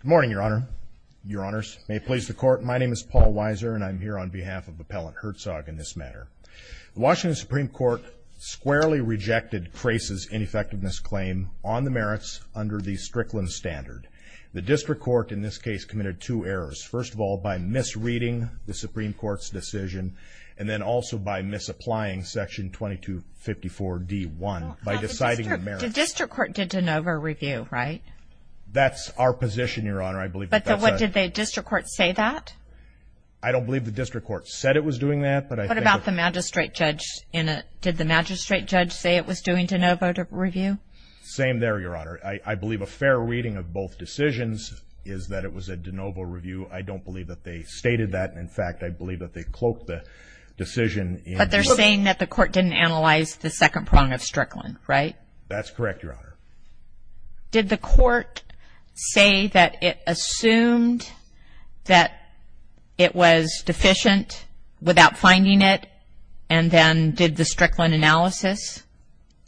Good morning, Your Honor, Your Honors. May it please the Court, my name is Paul Weiser, and I'm here on behalf of Appellant Herzog in this matter. The Washington Supreme Court squarely rejected Crace's ineffectiveness claim on the merits under the Strickland Standard. The District Court in this case committed two errors. First of all, by misreading the Supreme Court's decision, and then also by misapplying Section 2254d-1 by deciding the merits. The District Court did de novo review, right? That's our position, Your Honor. I believe that that's right. But did the District Court say that? I don't believe the District Court said it was doing that. What about the magistrate judge? Did the magistrate judge say it was doing de novo review? Same there, Your Honor. I believe a fair reading of both decisions is that it was a de novo review. I don't believe that they stated that. In fact, I believe that they cloaked the decision. But they're saying that the Court didn't analyze the second prong of Strickland, right? That's correct, Your Honor. Did the Court say that it assumed that it was deficient without finding it, and then did the Strickland analysis?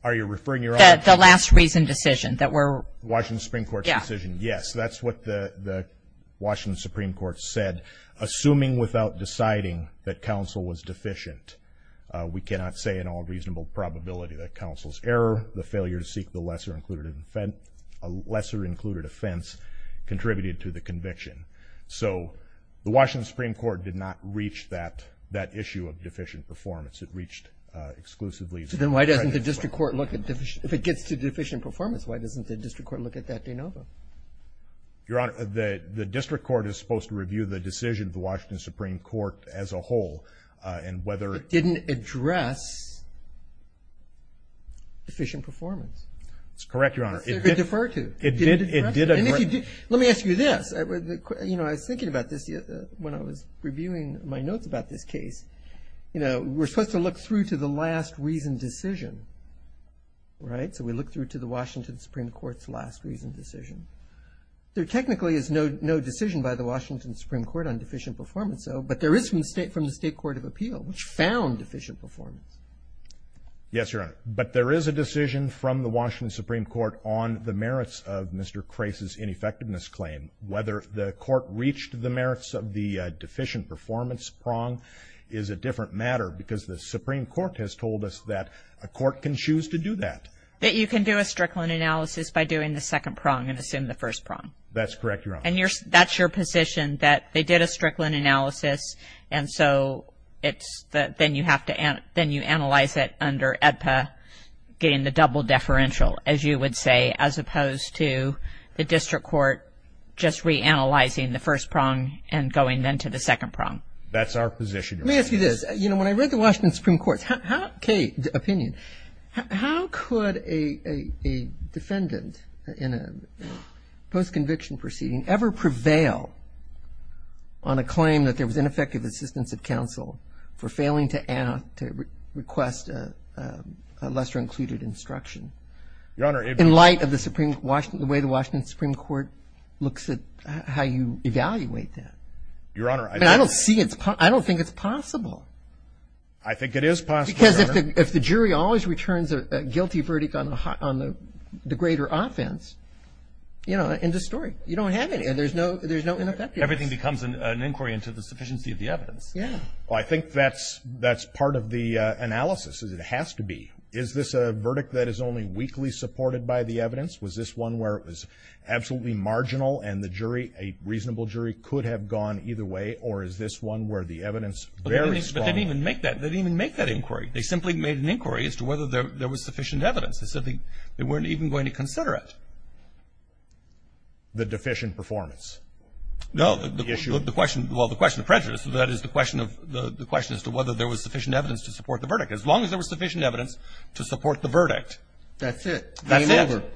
Are you referring to your own opinion? The last reason decision, that we're... That's what the Washington Supreme Court said. Assuming without deciding that counsel was deficient, we cannot say in all reasonable probability that counsel's error, the failure to seek the lesser-included offense contributed to the conviction. So the Washington Supreme Court did not reach that issue of deficient performance. It reached exclusively... Then why doesn't the District Court look at deficient... Your Honor, the District Court is supposed to review the decision of the Washington Supreme Court as a whole, and whether... It didn't address deficient performance. That's correct, Your Honor. That's what it referred to. It did address it. Let me ask you this. You know, I was thinking about this when I was reviewing my notes about this case. You know, we're supposed to look through to the last reason decision, right? So we look through to the Washington Supreme Court's last reason decision. There technically is no decision by the Washington Supreme Court on deficient performance, though, but there is from the State Court of Appeal, which found deficient performance. Yes, Your Honor. But there is a decision from the Washington Supreme Court on the merits of Mr. Crase's ineffectiveness claim. Whether the court reached the merits of the deficient performance prong is a different matter because the Supreme Court has told us that a court can choose to do that. That you can do a Strickland analysis by doing the second prong and assume the first prong. That's correct, Your Honor. And that's your position, that they did a Strickland analysis, and so then you analyze it under AEDPA getting the double deferential, as you would say, as opposed to the district court just reanalyzing the first prong and going then to the second prong. That's our position, Your Honor. Let me ask you this. You know, when I read the Washington Supreme Court's opinion, how could a defendant in a post-conviction proceeding ever prevail on a claim that there was ineffective assistance of counsel for failing to request a lesser-included instruction? Your Honor. In light of the way the Washington Supreme Court looks at how you evaluate that. Your Honor. I don't see it. I don't think it's possible. I think it is possible, Your Honor. Because if the jury always returns a guilty verdict on the greater offense, you know, end of story. You don't have any. There's no ineffectiveness. Everything becomes an inquiry into the sufficiency of the evidence. Yeah. Well, I think that's part of the analysis. It has to be. Is this a verdict that is only weakly supported by the evidence? Was this one where it was absolutely marginal and the jury, a reasonable jury, could have gone either way, or is this one where the evidence is very strong? But they didn't even make that. They didn't even make that inquiry. They simply made an inquiry as to whether there was sufficient evidence. They said they weren't even going to consider it. The deficient performance? No, the question of prejudice. That is the question as to whether there was sufficient evidence to support the verdict. As long as there was sufficient evidence to support the verdict. That's it. That's it.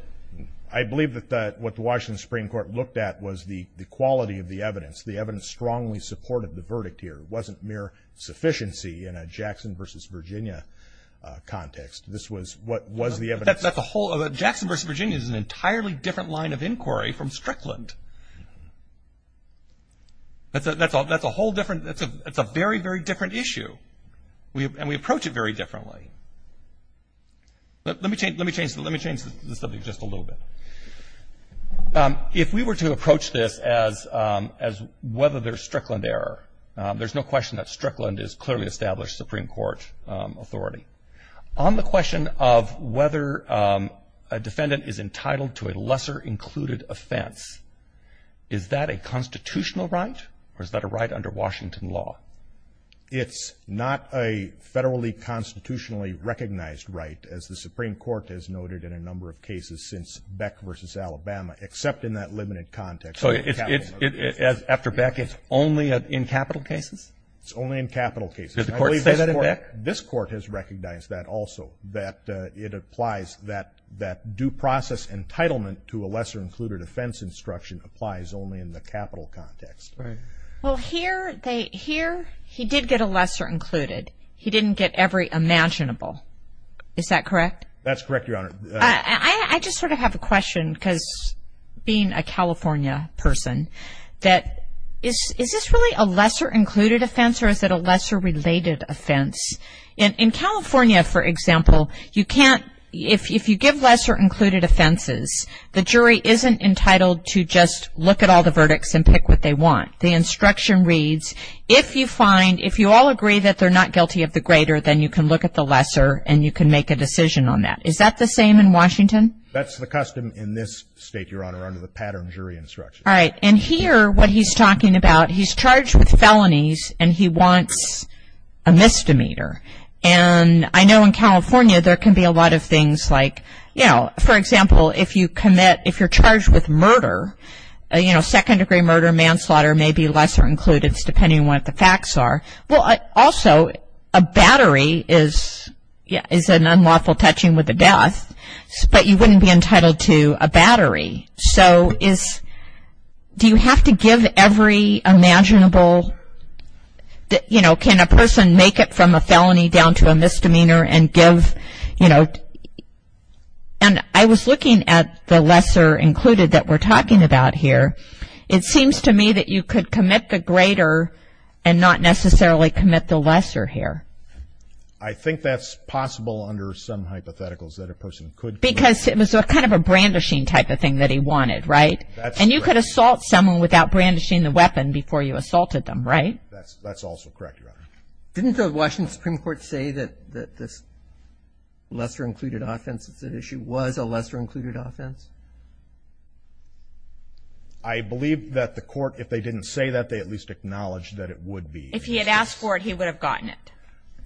I believe that what the Washington Supreme Court looked at was the quality of the evidence. The evidence strongly supported the verdict here. It wasn't mere sufficiency in a Jackson v. Virginia context. This was what was the evidence. Jackson v. Virginia is an entirely different line of inquiry from Strickland. That's a whole different – it's a very, very different issue. And we approach it very differently. Let me change the subject just a little bit. If we were to approach this as whether there's Strickland error, there's no question that Strickland is clearly established Supreme Court authority. On the question of whether a defendant is entitled to a lesser included offense, is that a constitutional right or is that a right under Washington law? It's not a federally constitutionally recognized right, as the Supreme Court has noted in a number of cases since Beck v. Alabama, except in that limited context. So after Beck it's only in capital cases? It's only in capital cases. Did the Court say that in Beck? This Court has recognized that also, that it applies that due process entitlement to a lesser included offense instruction applies only in the capital context. Well, here he did get a lesser included. He didn't get every imaginable. Is that correct? That's correct, Your Honor. I just sort of have a question because being a California person, that is this really a lesser included offense or is it a lesser related offense? In California, for example, you can't – if you give lesser included offenses, the jury isn't entitled to just look at all the verdicts and pick what they want. The instruction reads, if you find – if you all agree that they're not guilty of the greater, then you can look at the lesser and you can make a decision on that. Is that the same in Washington? That's the custom in this state, Your Honor, under the pattern jury instruction. All right. And here what he's talking about, he's charged with felonies and he wants a misdemeanor. And I know in California there can be a lot of things like, you know, for example, if you commit – if you're charged with murder, you know, second-degree murder, manslaughter, maybe lesser included, depending on what the facts are. Also, a battery is an unlawful touching with a death, but you wouldn't be entitled to a battery. So is – do you have to give every imaginable, you know, can a person make it from a felony down to a misdemeanor and give, you know – and I was looking at the lesser included that we're talking about here. It seems to me that you could commit the greater and not necessarily commit the lesser here. I think that's possible under some hypotheticals that a person could commit. Because it was kind of a brandishing type of thing that he wanted, right? That's correct. And you could assault someone without brandishing the weapon before you assaulted them, right? That's also correct, Your Honor. Didn't the Washington Supreme Court say that this lesser included offense that's at issue was a lesser included offense? I believe that the court, if they didn't say that, they at least acknowledged that it would be. If he had asked for it, he would have gotten it.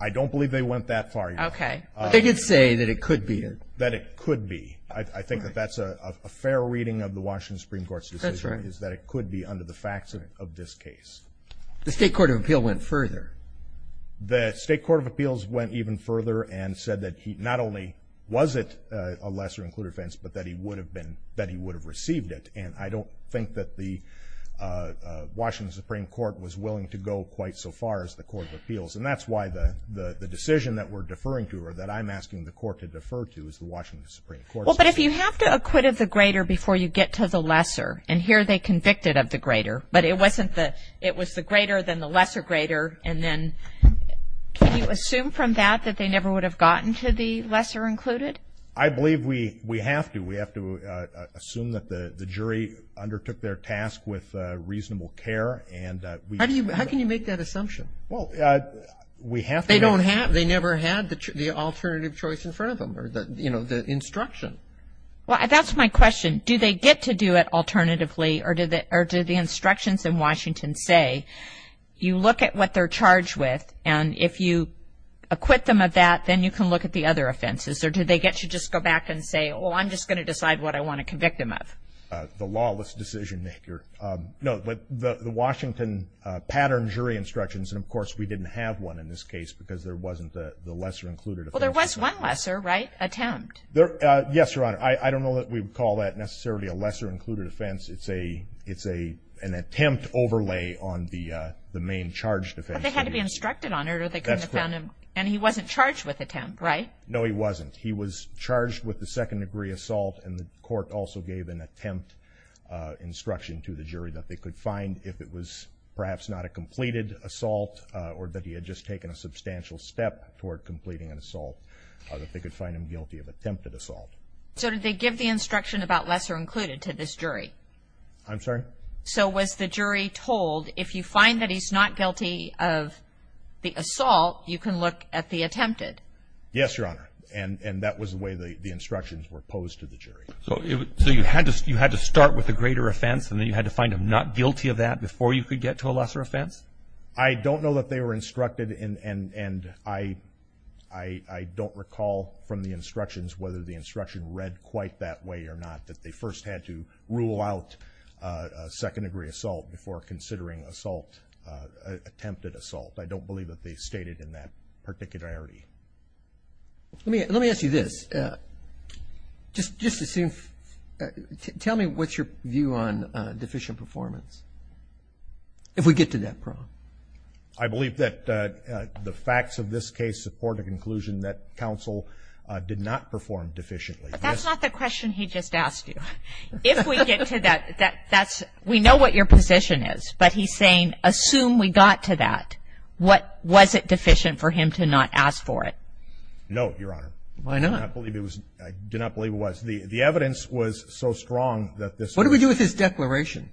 I don't believe they went that far, Your Honor. Okay. They did say that it could be. That it could be. I think that that's a fair reading of the Washington Supreme Court's decision. That's right. Is that it could be under the facts of this case. The State Court of Appeals went further. The State Court of Appeals went even further and said that not only was it a lesser included offense, but that he would have received it. And I don't think that the Washington Supreme Court was willing to go quite so far as the Court of Appeals. And that's why the decision that we're deferring to, or that I'm asking the court to defer to, is the Washington Supreme Court's decision. Well, but if you have to acquit of the greater before you get to the lesser, and here they convicted of the greater, but it was the greater than the lesser greater, and then can you assume from that that they never would have gotten to the lesser included? I believe we have to. We have to assume that the jury undertook their task with reasonable care. How can you make that assumption? Well, we have to. They never had the alternative choice in front of them, or, you know, the instruction. Well, that's my question. Do they get to do it alternatively, or do the instructions in Washington say, you look at what they're charged with, and if you acquit them of that, then you can look at the other offenses? Or do they get to just go back and say, well, I'm just going to decide what I want to convict them of? The lawless decision maker. No, the Washington pattern jury instructions, and, of course, we didn't have one in this case because there wasn't the lesser included offense. Well, there was one lesser, right, attempt? Yes, Your Honor. I don't know that we would call that necessarily a lesser included offense. It's an attempt overlay on the main charge defense. But they had to be instructed on it, or they couldn't have found him, and he wasn't charged with attempt, right? No, he wasn't. He was charged with the second degree assault, and the court also gave an attempt instruction to the jury that they could find, if it was perhaps not a completed assault or that he had just taken a substantial step toward completing an assault, that they could find him guilty of attempted assault. So did they give the instruction about lesser included to this jury? I'm sorry? So was the jury told, if you find that he's not guilty of the assault, you can look at the attempted? Yes, Your Honor, and that was the way the instructions were posed to the jury. So you had to start with a greater offense, and then you had to find him not guilty of that before you could get to a lesser offense? I don't know that they were instructed, and I don't recall from the instructions whether the instruction read quite that way or not, that they first had to rule out second degree assault before considering attempted assault. I don't believe that they stated in that particularity. Let me ask you this. Just tell me what's your view on deficient performance, if we get to that problem. I believe that the facts of this case support a conclusion that counsel did not perform deficiently. That's not the question he just asked you. If we get to that, that's we know what your position is, but he's saying assume we got to that. Was it deficient for him to not ask for it? No, Your Honor. Why not? The evidence was so strong that this was not deficient. What do we do with his declaration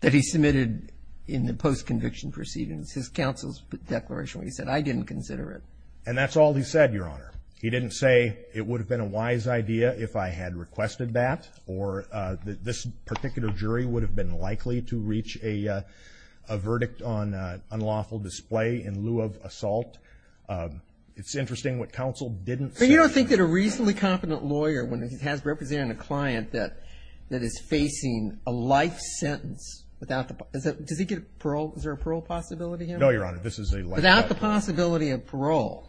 that he submitted in the post-conviction proceedings? His counsel's declaration where he said, I didn't consider it. And that's all he said, Your Honor. He didn't say it would have been a wise idea if I had requested that, or that this particular jury would have been likely to reach a verdict on unlawful display in lieu of assault. It's interesting what counsel didn't say. But you don't think that a reasonably competent lawyer, when he has represented a client that is facing a life sentence without the, does he get parole? Is there a parole possibility here? No, Your Honor. This is a life sentence. Without the possibility of parole,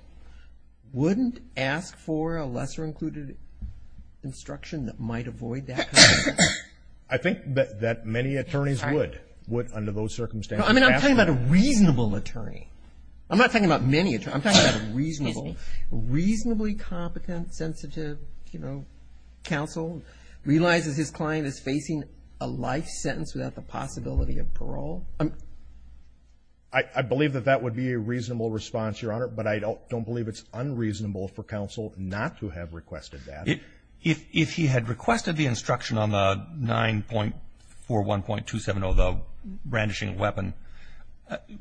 wouldn't ask for a lesser included instruction that might avoid that? I think that many attorneys would, would under those circumstances. I mean, I'm talking about a reasonable attorney. I'm not talking about many attorneys. I'm talking about a reasonable, reasonably competent, sensitive, you know, counsel realizes his client is facing a life sentence without the possibility of parole. I believe that that would be a reasonable response, Your Honor. But I don't believe it's unreasonable for counsel not to have requested that. If he had requested the instruction on the 9.41.270, the brandishing weapon,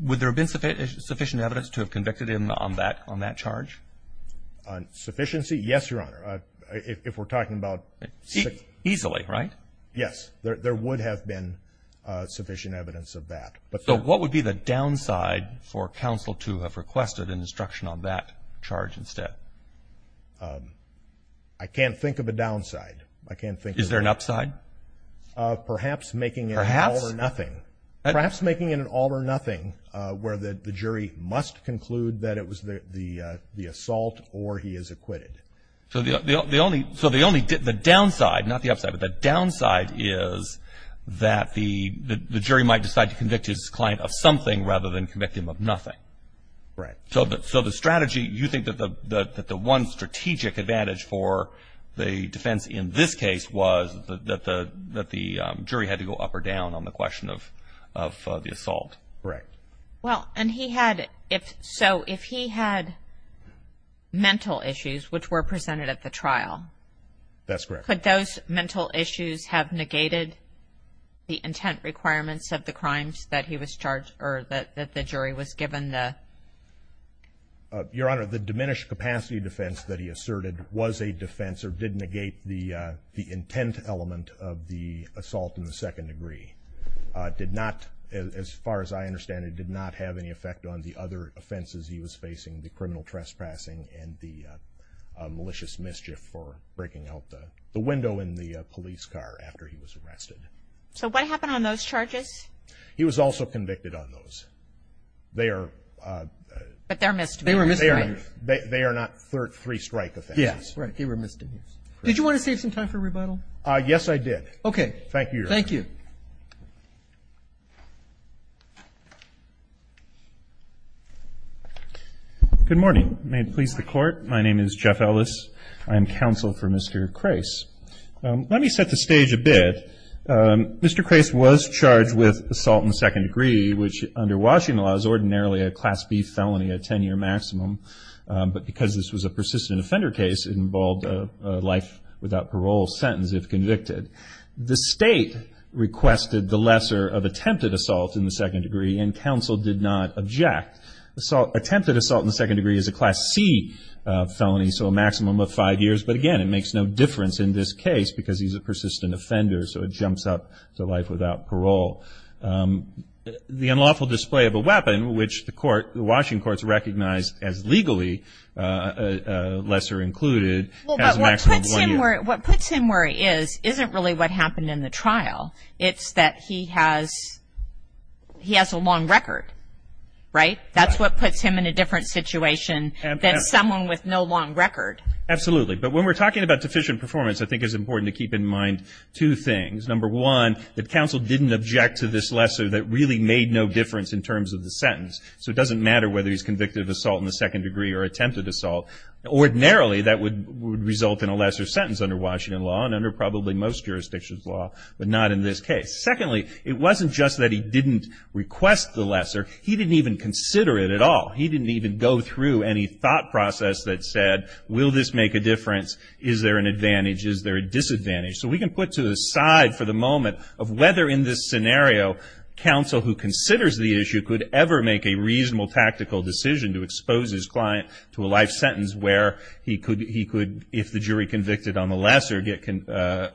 would there have been sufficient evidence to have convicted him on that, on that charge? On sufficiency? Yes, Your Honor. If we're talking about. Easily, right? Yes. There would have been sufficient evidence of that. So what would be the downside for counsel to have requested an instruction on that charge instead? I can't think of a downside. I can't think of. Is there an upside? Perhaps making it. Perhaps. An all or nothing. Perhaps making it an all or nothing where the jury must conclude that it was the assault or he is acquitted. So the only. So the only. The downside. Not the upside. But the downside is that the jury might decide to convict his client of something rather than convict him of nothing. Right. So the strategy. You think that the one strategic advantage for the defense in this case was that the jury had to go up or down on the question of the assault? Correct. Well, and he had. So if he had mental issues which were presented at the trial. That's correct. Could those mental issues have negated the intent requirements of the crimes that he was charged or that the jury was given the. Your Honor, the diminished capacity defense that he asserted was a defense or did negate the intent element of the assault in the second degree. Did not, as far as I understand it, did not have any effect on the other offenses he was facing, the criminal trespassing and the malicious mischief for breaking out the window in the police car after he was arrested. So what happened on those charges? He was also convicted on those. They are. But they're misdemeanors. They were misdemeanors. They are not three strike offenses. Yes. Correct. They were misdemeanors. Did you want to save some time for rebuttal? Yes, I did. Okay. Thank you, Your Honor. Thank you. Good morning. May it please the Court. My name is Jeff Ellis. I am counsel for Mr. Crais. Let me set the stage a bit. Mr. Crais was charged with assault in the second degree, which under Washington law is ordinarily a Class B felony, a 10-year maximum. But because this was a persistent offender case, it involved a life without parole sentence if convicted. The State requested the lesser of attempted assault in the second degree, and counsel did not object. Attempted assault in the second degree is a Class C felony, so a maximum of five years. But, again, it makes no difference in this case because he's a persistent offender, so it jumps up to life without parole. The unlawful display of a weapon, which the court, the Washington courts recognize as legally lesser included, has a maximum of one year. What puts him where he is isn't really what happened in the trial. It's that he has a long record, right? That's what puts him in a different situation than someone with no long record. Absolutely. But when we're talking about deficient performance, I think it's important to keep in mind two things. Number one, that counsel didn't object to this lesser that really made no difference in terms of the sentence. So it doesn't matter whether he's convicted of assault in the second degree or attempted assault. Ordinarily, that would result in a lesser sentence under Washington law and under probably most jurisdictions law, but not in this case. Secondly, it wasn't just that he didn't request the lesser. He didn't even consider it at all. He didn't even go through any thought process that said, will this make a difference? Is there an advantage? Is there a disadvantage? So we can put to the side for the moment of whether in this scenario, counsel who considers the issue could ever make a reasonable tactical decision to expose his client to a life sentence where he could, if the jury convicted on the lesser, get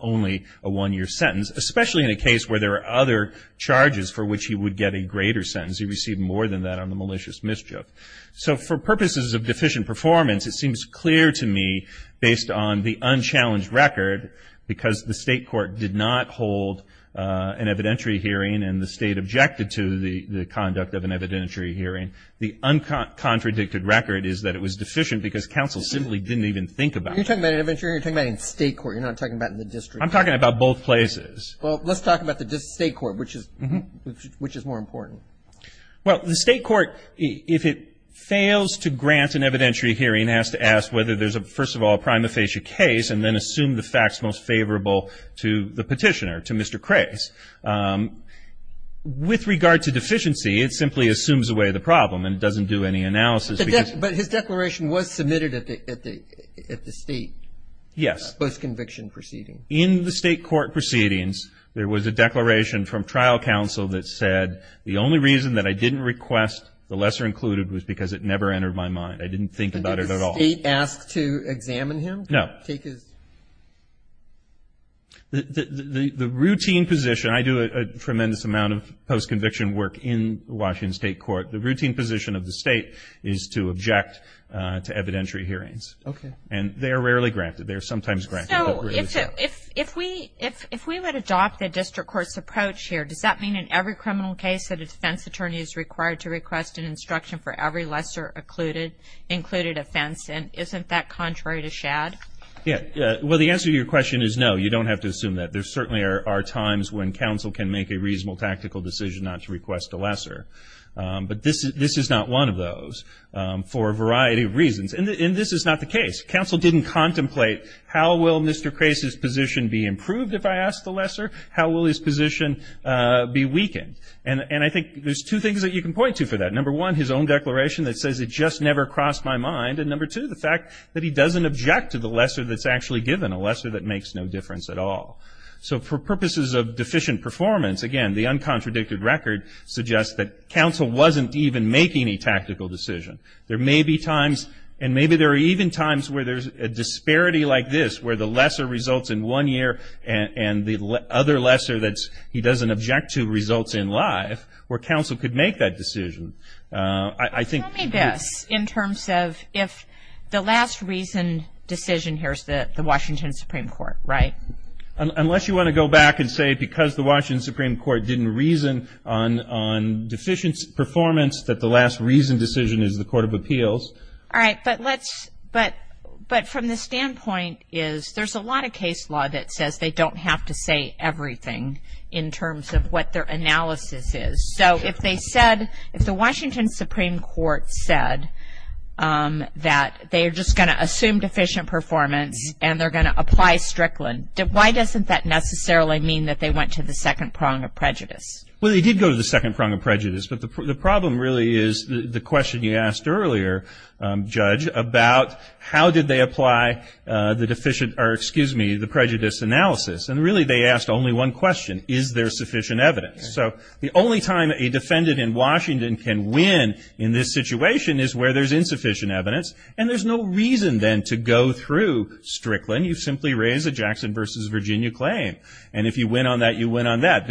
only a one-year sentence, especially in a case where there are other charges for which he would get a greater sentence. He received more than that on the malicious mischief. So for purposes of deficient performance, it seems clear to me based on the unchallenged record, because the state court did not hold an evidentiary hearing and the state objected to the conduct of an evidentiary hearing, the uncontradicted record is that it was deficient because counsel simply didn't even think about it. You're talking about an evidentiary hearing. You're talking about a state court. You're not talking about the district. I'm talking about both places. Well, let's talk about the state court, which is more important. Well, the state court, if it fails to grant an evidentiary hearing, has to ask whether there's, first of all, a prima facie case and then assume the facts most favorable to the petitioner, to Mr. Crais. With regard to deficiency, it simply assumes away the problem and doesn't do any analysis. But his declaration was submitted at the state post-conviction proceeding. Yes. In the state court proceedings, there was a declaration from trial counsel that said the only reason that I didn't request the lesser included was because it never entered my mind. I didn't think about it at all. Did the state ask to examine him? No. The routine position, I do a tremendous amount of post-conviction work in Washington State Court, the routine position of the state is to object to evidentiary hearings. Okay. And they are rarely granted. They are sometimes granted. So if we would adopt the district court's approach here, does that mean in every criminal case that a defense attorney is required to request an instruction for every lesser included offense? And isn't that contrary to Shad? Well, the answer to your question is no. You don't have to assume that. There certainly are times when counsel can make a reasonable tactical decision not to request a lesser. But this is not one of those for a variety of reasons. And this is not the case. Counsel didn't contemplate how will Mr. Krase's position be improved if I ask the lesser? How will his position be weakened? And I think there's two things that you can point to for that. Number one, his own declaration that says it just never crossed my mind. And number two, the fact that he doesn't object to the lesser that's actually given, a lesser that makes no difference at all. So for purposes of deficient performance, again, the uncontradicted record suggests that counsel wasn't even making a tactical decision. There may be times, and maybe there are even times where there's a disparity like this, where the lesser results in one year and the other lesser that he doesn't object to results in life, where counsel could make that decision. I think. Tell me this in terms of if the last reason decision here is the Washington Supreme Court, right? Unless you want to go back and say because the Washington Supreme Court didn't reason on deficient performance that the last reason decision is the Court of Appeals. All right. But from the standpoint is there's a lot of case law that says they don't have to say everything in terms of what their analysis is. So if they said, if the Washington Supreme Court said that they are just going to assume deficient performance and they're going to apply Strickland, why doesn't that necessarily mean that they went to the second prong of prejudice? Well, they did go to the second prong of prejudice. But the problem really is the question you asked earlier, Judge, about how did they apply the deficient or, excuse me, the prejudice analysis. And really they asked only one question, is there sufficient evidence? So the only time a defendant in Washington can win in this situation is where there's insufficient evidence. And there's no reason then to go through Strickland. You simply raise a Jackson versus Virginia claim. And if you win on that, you win on that.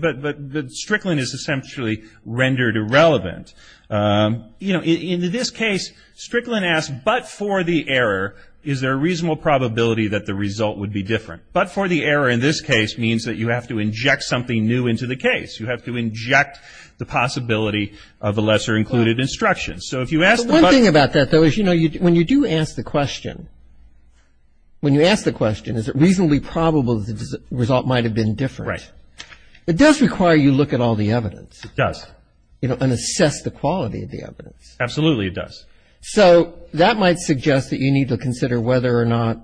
But Strickland is essentially rendered irrelevant. You know, in this case, Strickland asked, but for the error, is there a reasonable probability that the result would be different? But for the error in this case means that you have to inject something new into the case. You have to inject the possibility of a lesser included instruction. So if you ask the question. One thing about that, though, is, you know, when you do ask the question, when you ask the question, is it reasonably probable that the result might have been different. Right. It does require you look at all the evidence. It does. You know, and assess the quality of the evidence. Absolutely, it does. So that might suggest that you need to consider whether or not,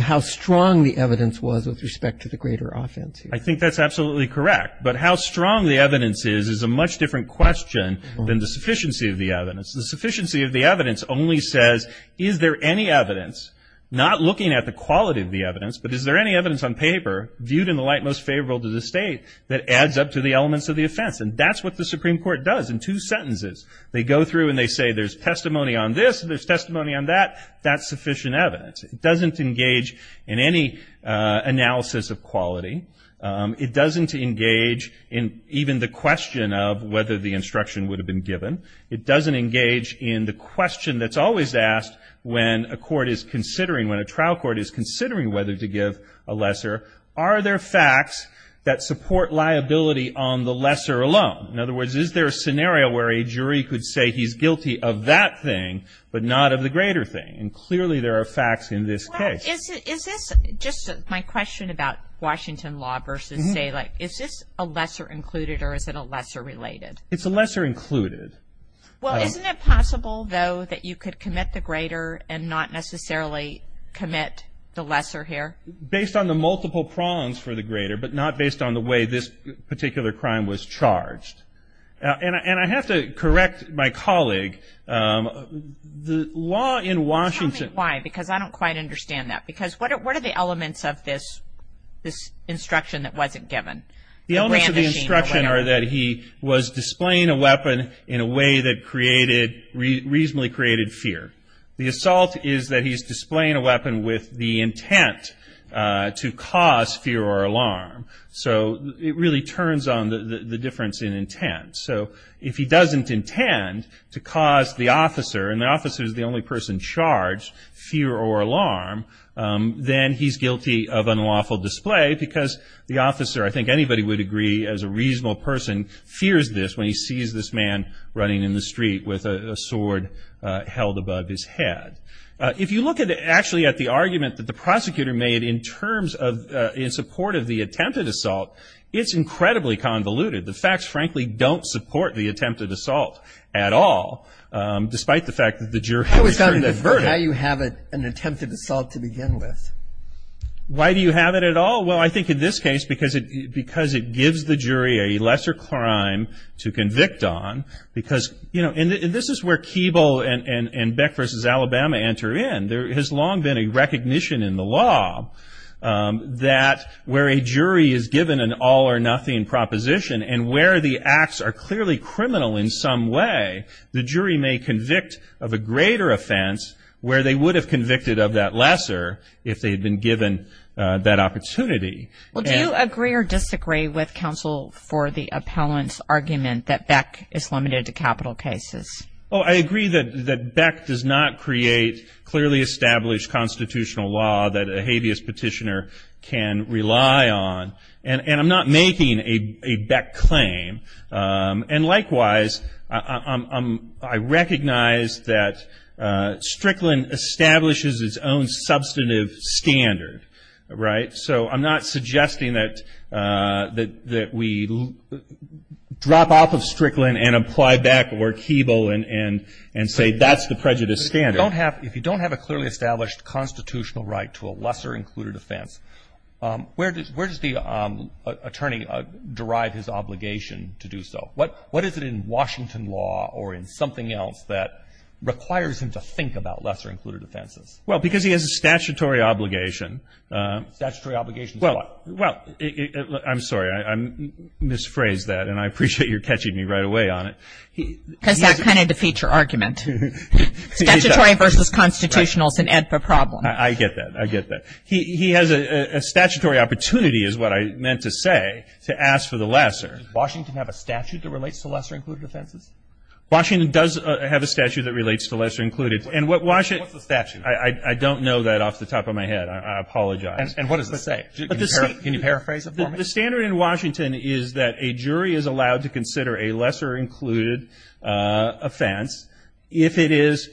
how strong the evidence was with respect to the greater offense here. I think that's absolutely correct. But how strong the evidence is is a much different question than the sufficiency of the evidence. The sufficiency of the evidence only says, is there any evidence, not looking at the quality of the evidence, but is there any evidence on paper viewed in the light most favorable to the state that adds up to the elements of the offense. And that's what the Supreme Court does in two sentences. They go through and they say there's testimony on this and there's testimony on that. That's sufficient evidence. It doesn't engage in any analysis of quality. It doesn't engage in even the question of whether the instruction would have been given. It doesn't engage in the question that's always asked when a court is considering, when a trial court is considering whether to give a lesser, are there facts that support liability on the lesser alone? In other words, is there a scenario where a jury could say he's guilty of that thing but not of the greater thing? And clearly there are facts in this case. Is this, just my question about Washington law versus say, like, is this a lesser included or is it a lesser related? It's a lesser included. Well, isn't it possible, though, that you could commit the greater and not necessarily commit the lesser here? Based on the multiple prongs for the greater but not based on the way this particular crime was charged. And I have to correct my colleague. The law in Washington. Tell me why, because I don't quite understand that. Because what are the elements of this instruction that wasn't given? The elements of the instruction are that he was displaying a weapon in a way that reasonably created fear. The assault is that he's displaying a weapon with the intent to cause fear or alarm. So it really turns on the difference in intent. So if he doesn't intend to cause the officer, and the officer is the only person charged, fear or alarm, then he's guilty of unlawful display because the officer, I think anybody would agree as a reasonable person, fears this when he sees this man running in the street with a sword held above his head. If you look actually at the argument that the prosecutor made in terms of, in support of the attempted assault, it's incredibly convoluted. The facts, frankly, don't support the attempted assault at all, despite the fact that the jury has returned the verdict. Why do you have an attempted assault to begin with? Why do you have it at all? Well, I think in this case because it gives the jury a lesser crime to convict on. Because, you know, and this is where Keeble and Beck v. Alabama enter in. There has long been a recognition in the law that where a jury is given an all or nothing proposition and where the acts are clearly criminal in some way, the jury may convict of a greater offense where they would have convicted of that lesser if they had been given that opportunity. Well, do you agree or disagree with counsel for the appellant's argument that Beck is limited to capital cases? Oh, I agree that Beck does not create clearly established constitutional law that a habeas petitioner can rely on. And I'm not making a Beck claim. And likewise, I recognize that Strickland establishes its own substantive standard, right? So I'm not suggesting that we drop off of Strickland and apply Beck or Keeble and say that's the prejudice standard. If you don't have a clearly established constitutional right to a lesser included offense, where does the attorney derive his obligation to do so? What is it in Washington law or in something else that requires him to think about lesser included offenses? Well, because he has a statutory obligation. Statutory obligation for what? Well, I'm sorry. I misphrased that, and I appreciate you catching me right away on it. Because that kind of defeats your argument. Statutory versus constitutional is an ad for problem. I get that. I get that. He has a statutory opportunity is what I meant to say to ask for the lesser. Does Washington have a statute that relates to lesser included offenses? Washington does have a statute that relates to lesser included. What's the statute? I don't know that off the top of my head. I apologize. And what does it say? Can you paraphrase it for me? The standard in Washington is that a jury is allowed to consider a lesser included offense if it is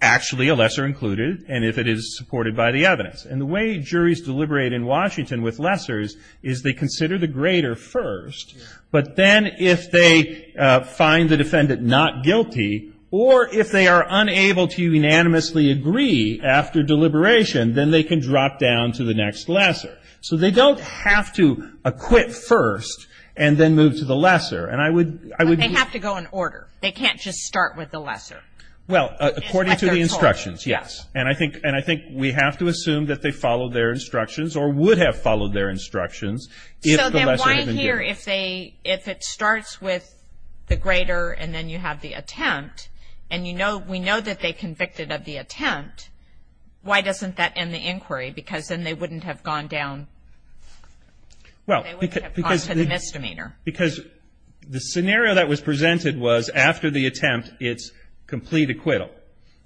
actually a lesser included and if it is supported by the evidence. And the way juries deliberate in Washington with lessers is they consider the greater first, but then if they find the defendant not guilty or if they are unable to unanimously agree after deliberation, then they can drop down to the next lesser. So they don't have to acquit first and then move to the lesser. And I would be ---- But they have to go in order. They can't just start with the lesser. Well, according to the instructions, yes. And I think we have to assume that they followed their instructions or would have followed their instructions if the lesser had been given. So then why here if it starts with the greater and then you have the attempt and we know that they convicted of the attempt, why doesn't that end the inquiry? Because then they wouldn't have gone down to the misdemeanor. Because the scenario that was presented was after the attempt, it's complete acquittal,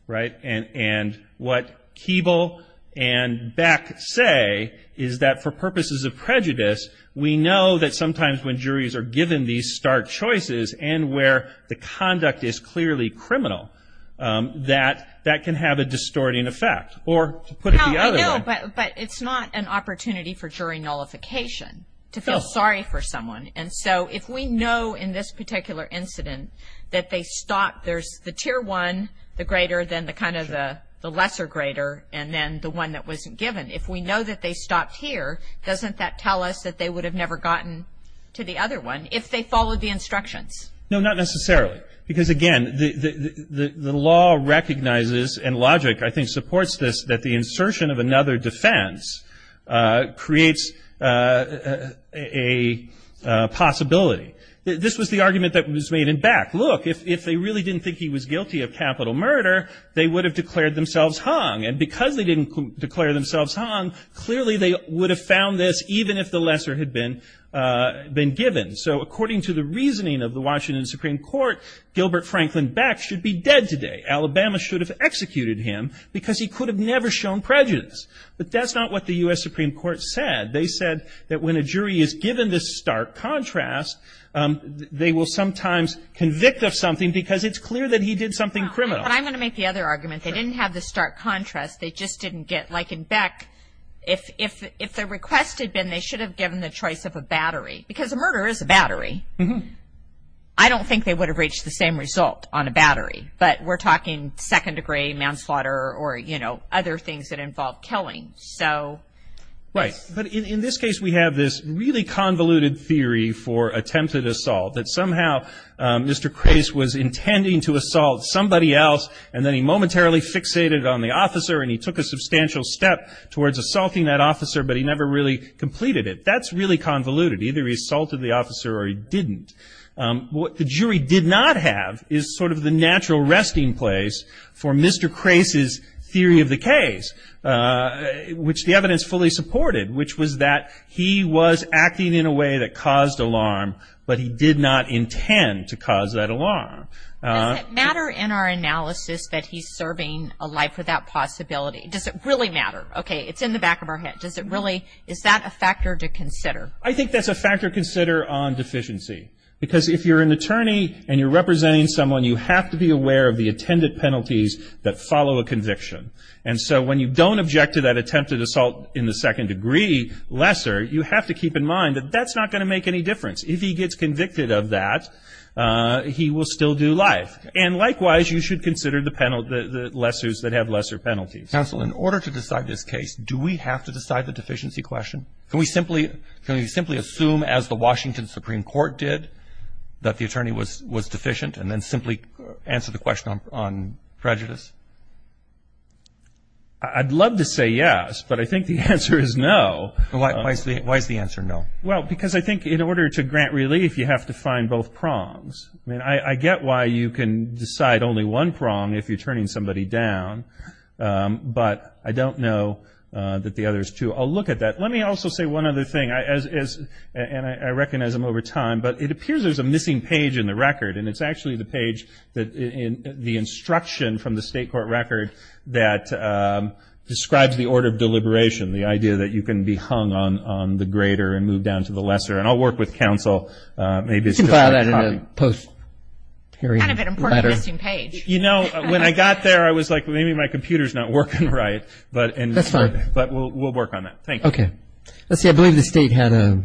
right? And what Keeble and Beck say is that for purposes of prejudice, we know that sometimes when juries are given these stark choices and where the conduct is clearly criminal, that that can have a distorting effect. Or to put it the other way. No, I know, but it's not an opportunity for jury nullification to feel sorry for someone and so if we know in this particular incident that they stopped, there's the tier one, the greater, then the kind of the lesser greater, and then the one that wasn't given. If we know that they stopped here, doesn't that tell us that they would have never gotten to the other one if they followed the instructions? No, not necessarily. Because, again, the law recognizes and logic I think supports this, that the insertion of another defense creates a possibility. This was the argument that was made in Beck. Look, if they really didn't think he was guilty of capital murder, they would have declared themselves hung. And because they didn't declare themselves hung, clearly they would have found this even if the lesser had been given. So according to the reasoning of the Washington Supreme Court, Gilbert Franklin Beck should be dead today. Alabama should have executed him because he could have never shown prejudice. But that's not what the U.S. Supreme Court said. They said that when a jury is given this stark contrast, they will sometimes convict of something because it's clear that he did something criminal. But I'm going to make the other argument. They didn't have the stark contrast. They just didn't get, like in Beck, if the request had been they should have given the choice of a battery. Because a murder is a battery. I don't think they would have reached the same result on a battery. But we're talking second degree manslaughter or, you know, other things that involve killing. So. Right. But in this case we have this really convoluted theory for attempted assault, that somehow Mr. Crase was intending to assault somebody else, and then he momentarily fixated on the officer and he took a substantial step towards assaulting that officer, but he never really completed it. That's really convoluted. Either he assaulted the officer or he didn't. What the jury did not have is sort of the natural resting place for Mr. Crase's theory of the case, which the evidence fully supported, which was that he was acting in a way that caused alarm, but he did not intend to cause that alarm. Does it matter in our analysis that he's serving a life without possibility? Does it really matter? Okay. It's in the back of our head. Does it really? Is that a factor to consider? I think that's a factor to consider on deficiency. Because if you're an attorney and you're representing someone, you have to be aware of the attendant penalties that follow a conviction. And so when you don't object to that attempted assault in the second degree, lesser, you have to keep in mind that that's not going to make any difference. If he gets convicted of that, he will still do life. And likewise, you should consider the penalty, the lessors that have lesser penalties. Counsel, in order to decide this case, do we have to decide the deficiency question? Can we simply assume, as the Washington Supreme Court did, that the attorney was deficient and then simply answer the question on prejudice? I'd love to say yes, but I think the answer is no. Why is the answer no? Well, because I think in order to grant relief, you have to find both prongs. I mean, I get why you can decide only one prong if you're turning somebody down, but I don't know that the others do. I'll look at that. Let me also say one other thing, and I recognize I'm over time, but it appears there's a missing page in the record, and it's actually the page, the instruction from the state court record, that describes the order of deliberation, the idea that you can be hung on the greater and move down to the lesser. And I'll work with counsel. You can file that in a post-period letter. Kind of an important missing page. You know, when I got there, I was like, maybe my computer's not working right. That's fine. But we'll work on that. Thank you. Okay. Let's see, I believe the state had a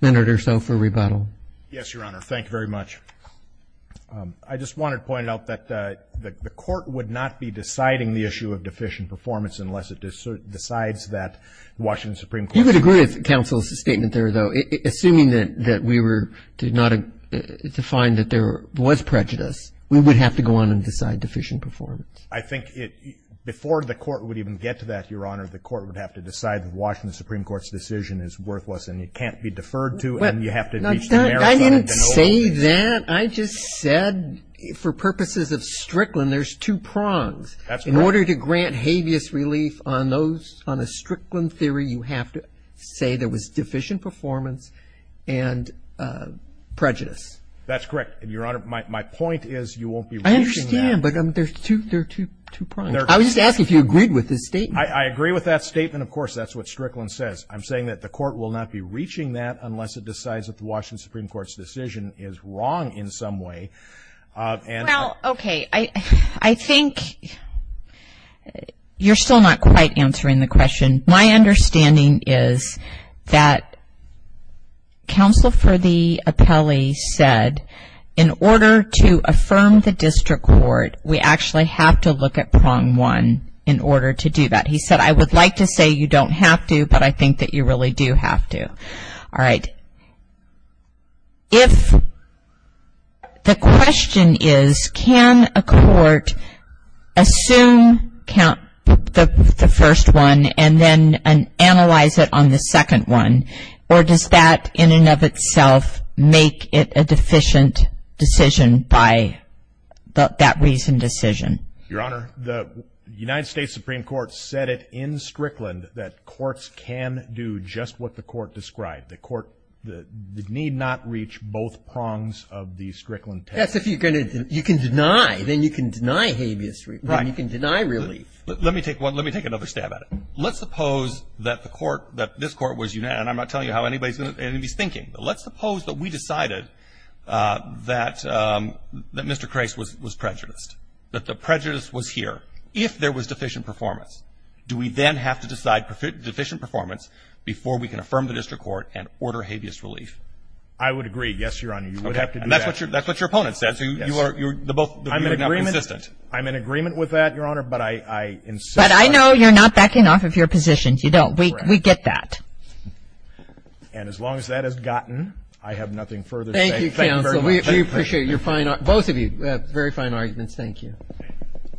minute or so for rebuttal. Yes, Your Honor. Thank you very much. I just wanted to point out that the court would not be deciding the issue of deficient performance unless it decides that the Washington Supreme Court. You would agree with counsel's statement there, though. Assuming that we were to find that there was prejudice, we would have to go on and decide deficient performance. I think before the court would even get to that, Your Honor, the court would have to decide the Washington Supreme Court's decision is worthless and it can't be deferred to. And you have to reach the merits of it. I didn't say that. I just said for purposes of Strickland, there's two prongs. That's correct. In order to grant habeas relief on those, on a Strickland theory, you have to say there was deficient performance and prejudice. That's correct, Your Honor. My point is you won't be reducing that. I am, but there are two prongs. I was just asking if you agreed with his statement. I agree with that statement. Of course, that's what Strickland says. I'm saying that the court will not be reaching that unless it decides that the Washington Supreme Court's decision is wrong in some way. Well, okay. I think you're still not quite answering the question. My understanding is that counsel for the appellee said in order to affirm the district court, we actually have to look at prong one in order to do that. He said, I would like to say you don't have to, but I think that you really do have to. All right. If the question is, can a court assume the first one and then analyze it on the second one, or does that in and of itself make it a deficient decision by that recent decision? Your Honor, the United States Supreme Court said it in Strickland that courts can do just what the court described. The court need not reach both prongs of the Strickland test. Yes, if you can deny, then you can deny habeas, then you can deny relief. Let me take another stab at it. Let's suppose that the court, that this court was unanimous, and I'm not telling you how anybody's thinking, but let's suppose that we decided that Mr. Crais was prejudiced, that the prejudice was here. If there was deficient performance, do we then have to decide deficient performance before we can affirm the district court and order habeas relief? I would agree. Yes, Your Honor, you would have to do that. Okay. And that's what your opponent says. You are, you're, the both of you are not consistent. I'm in agreement. I'm in agreement with that, Your Honor, but I insist. But I know you're not backing off of your position. You don't. We get that. And as long as that has gotten, I have nothing further to say. Thank you, counsel. Thank you very much. We appreciate your fine, both of you, very fine arguments. Thank you. Thank you. Thank you. Thank you.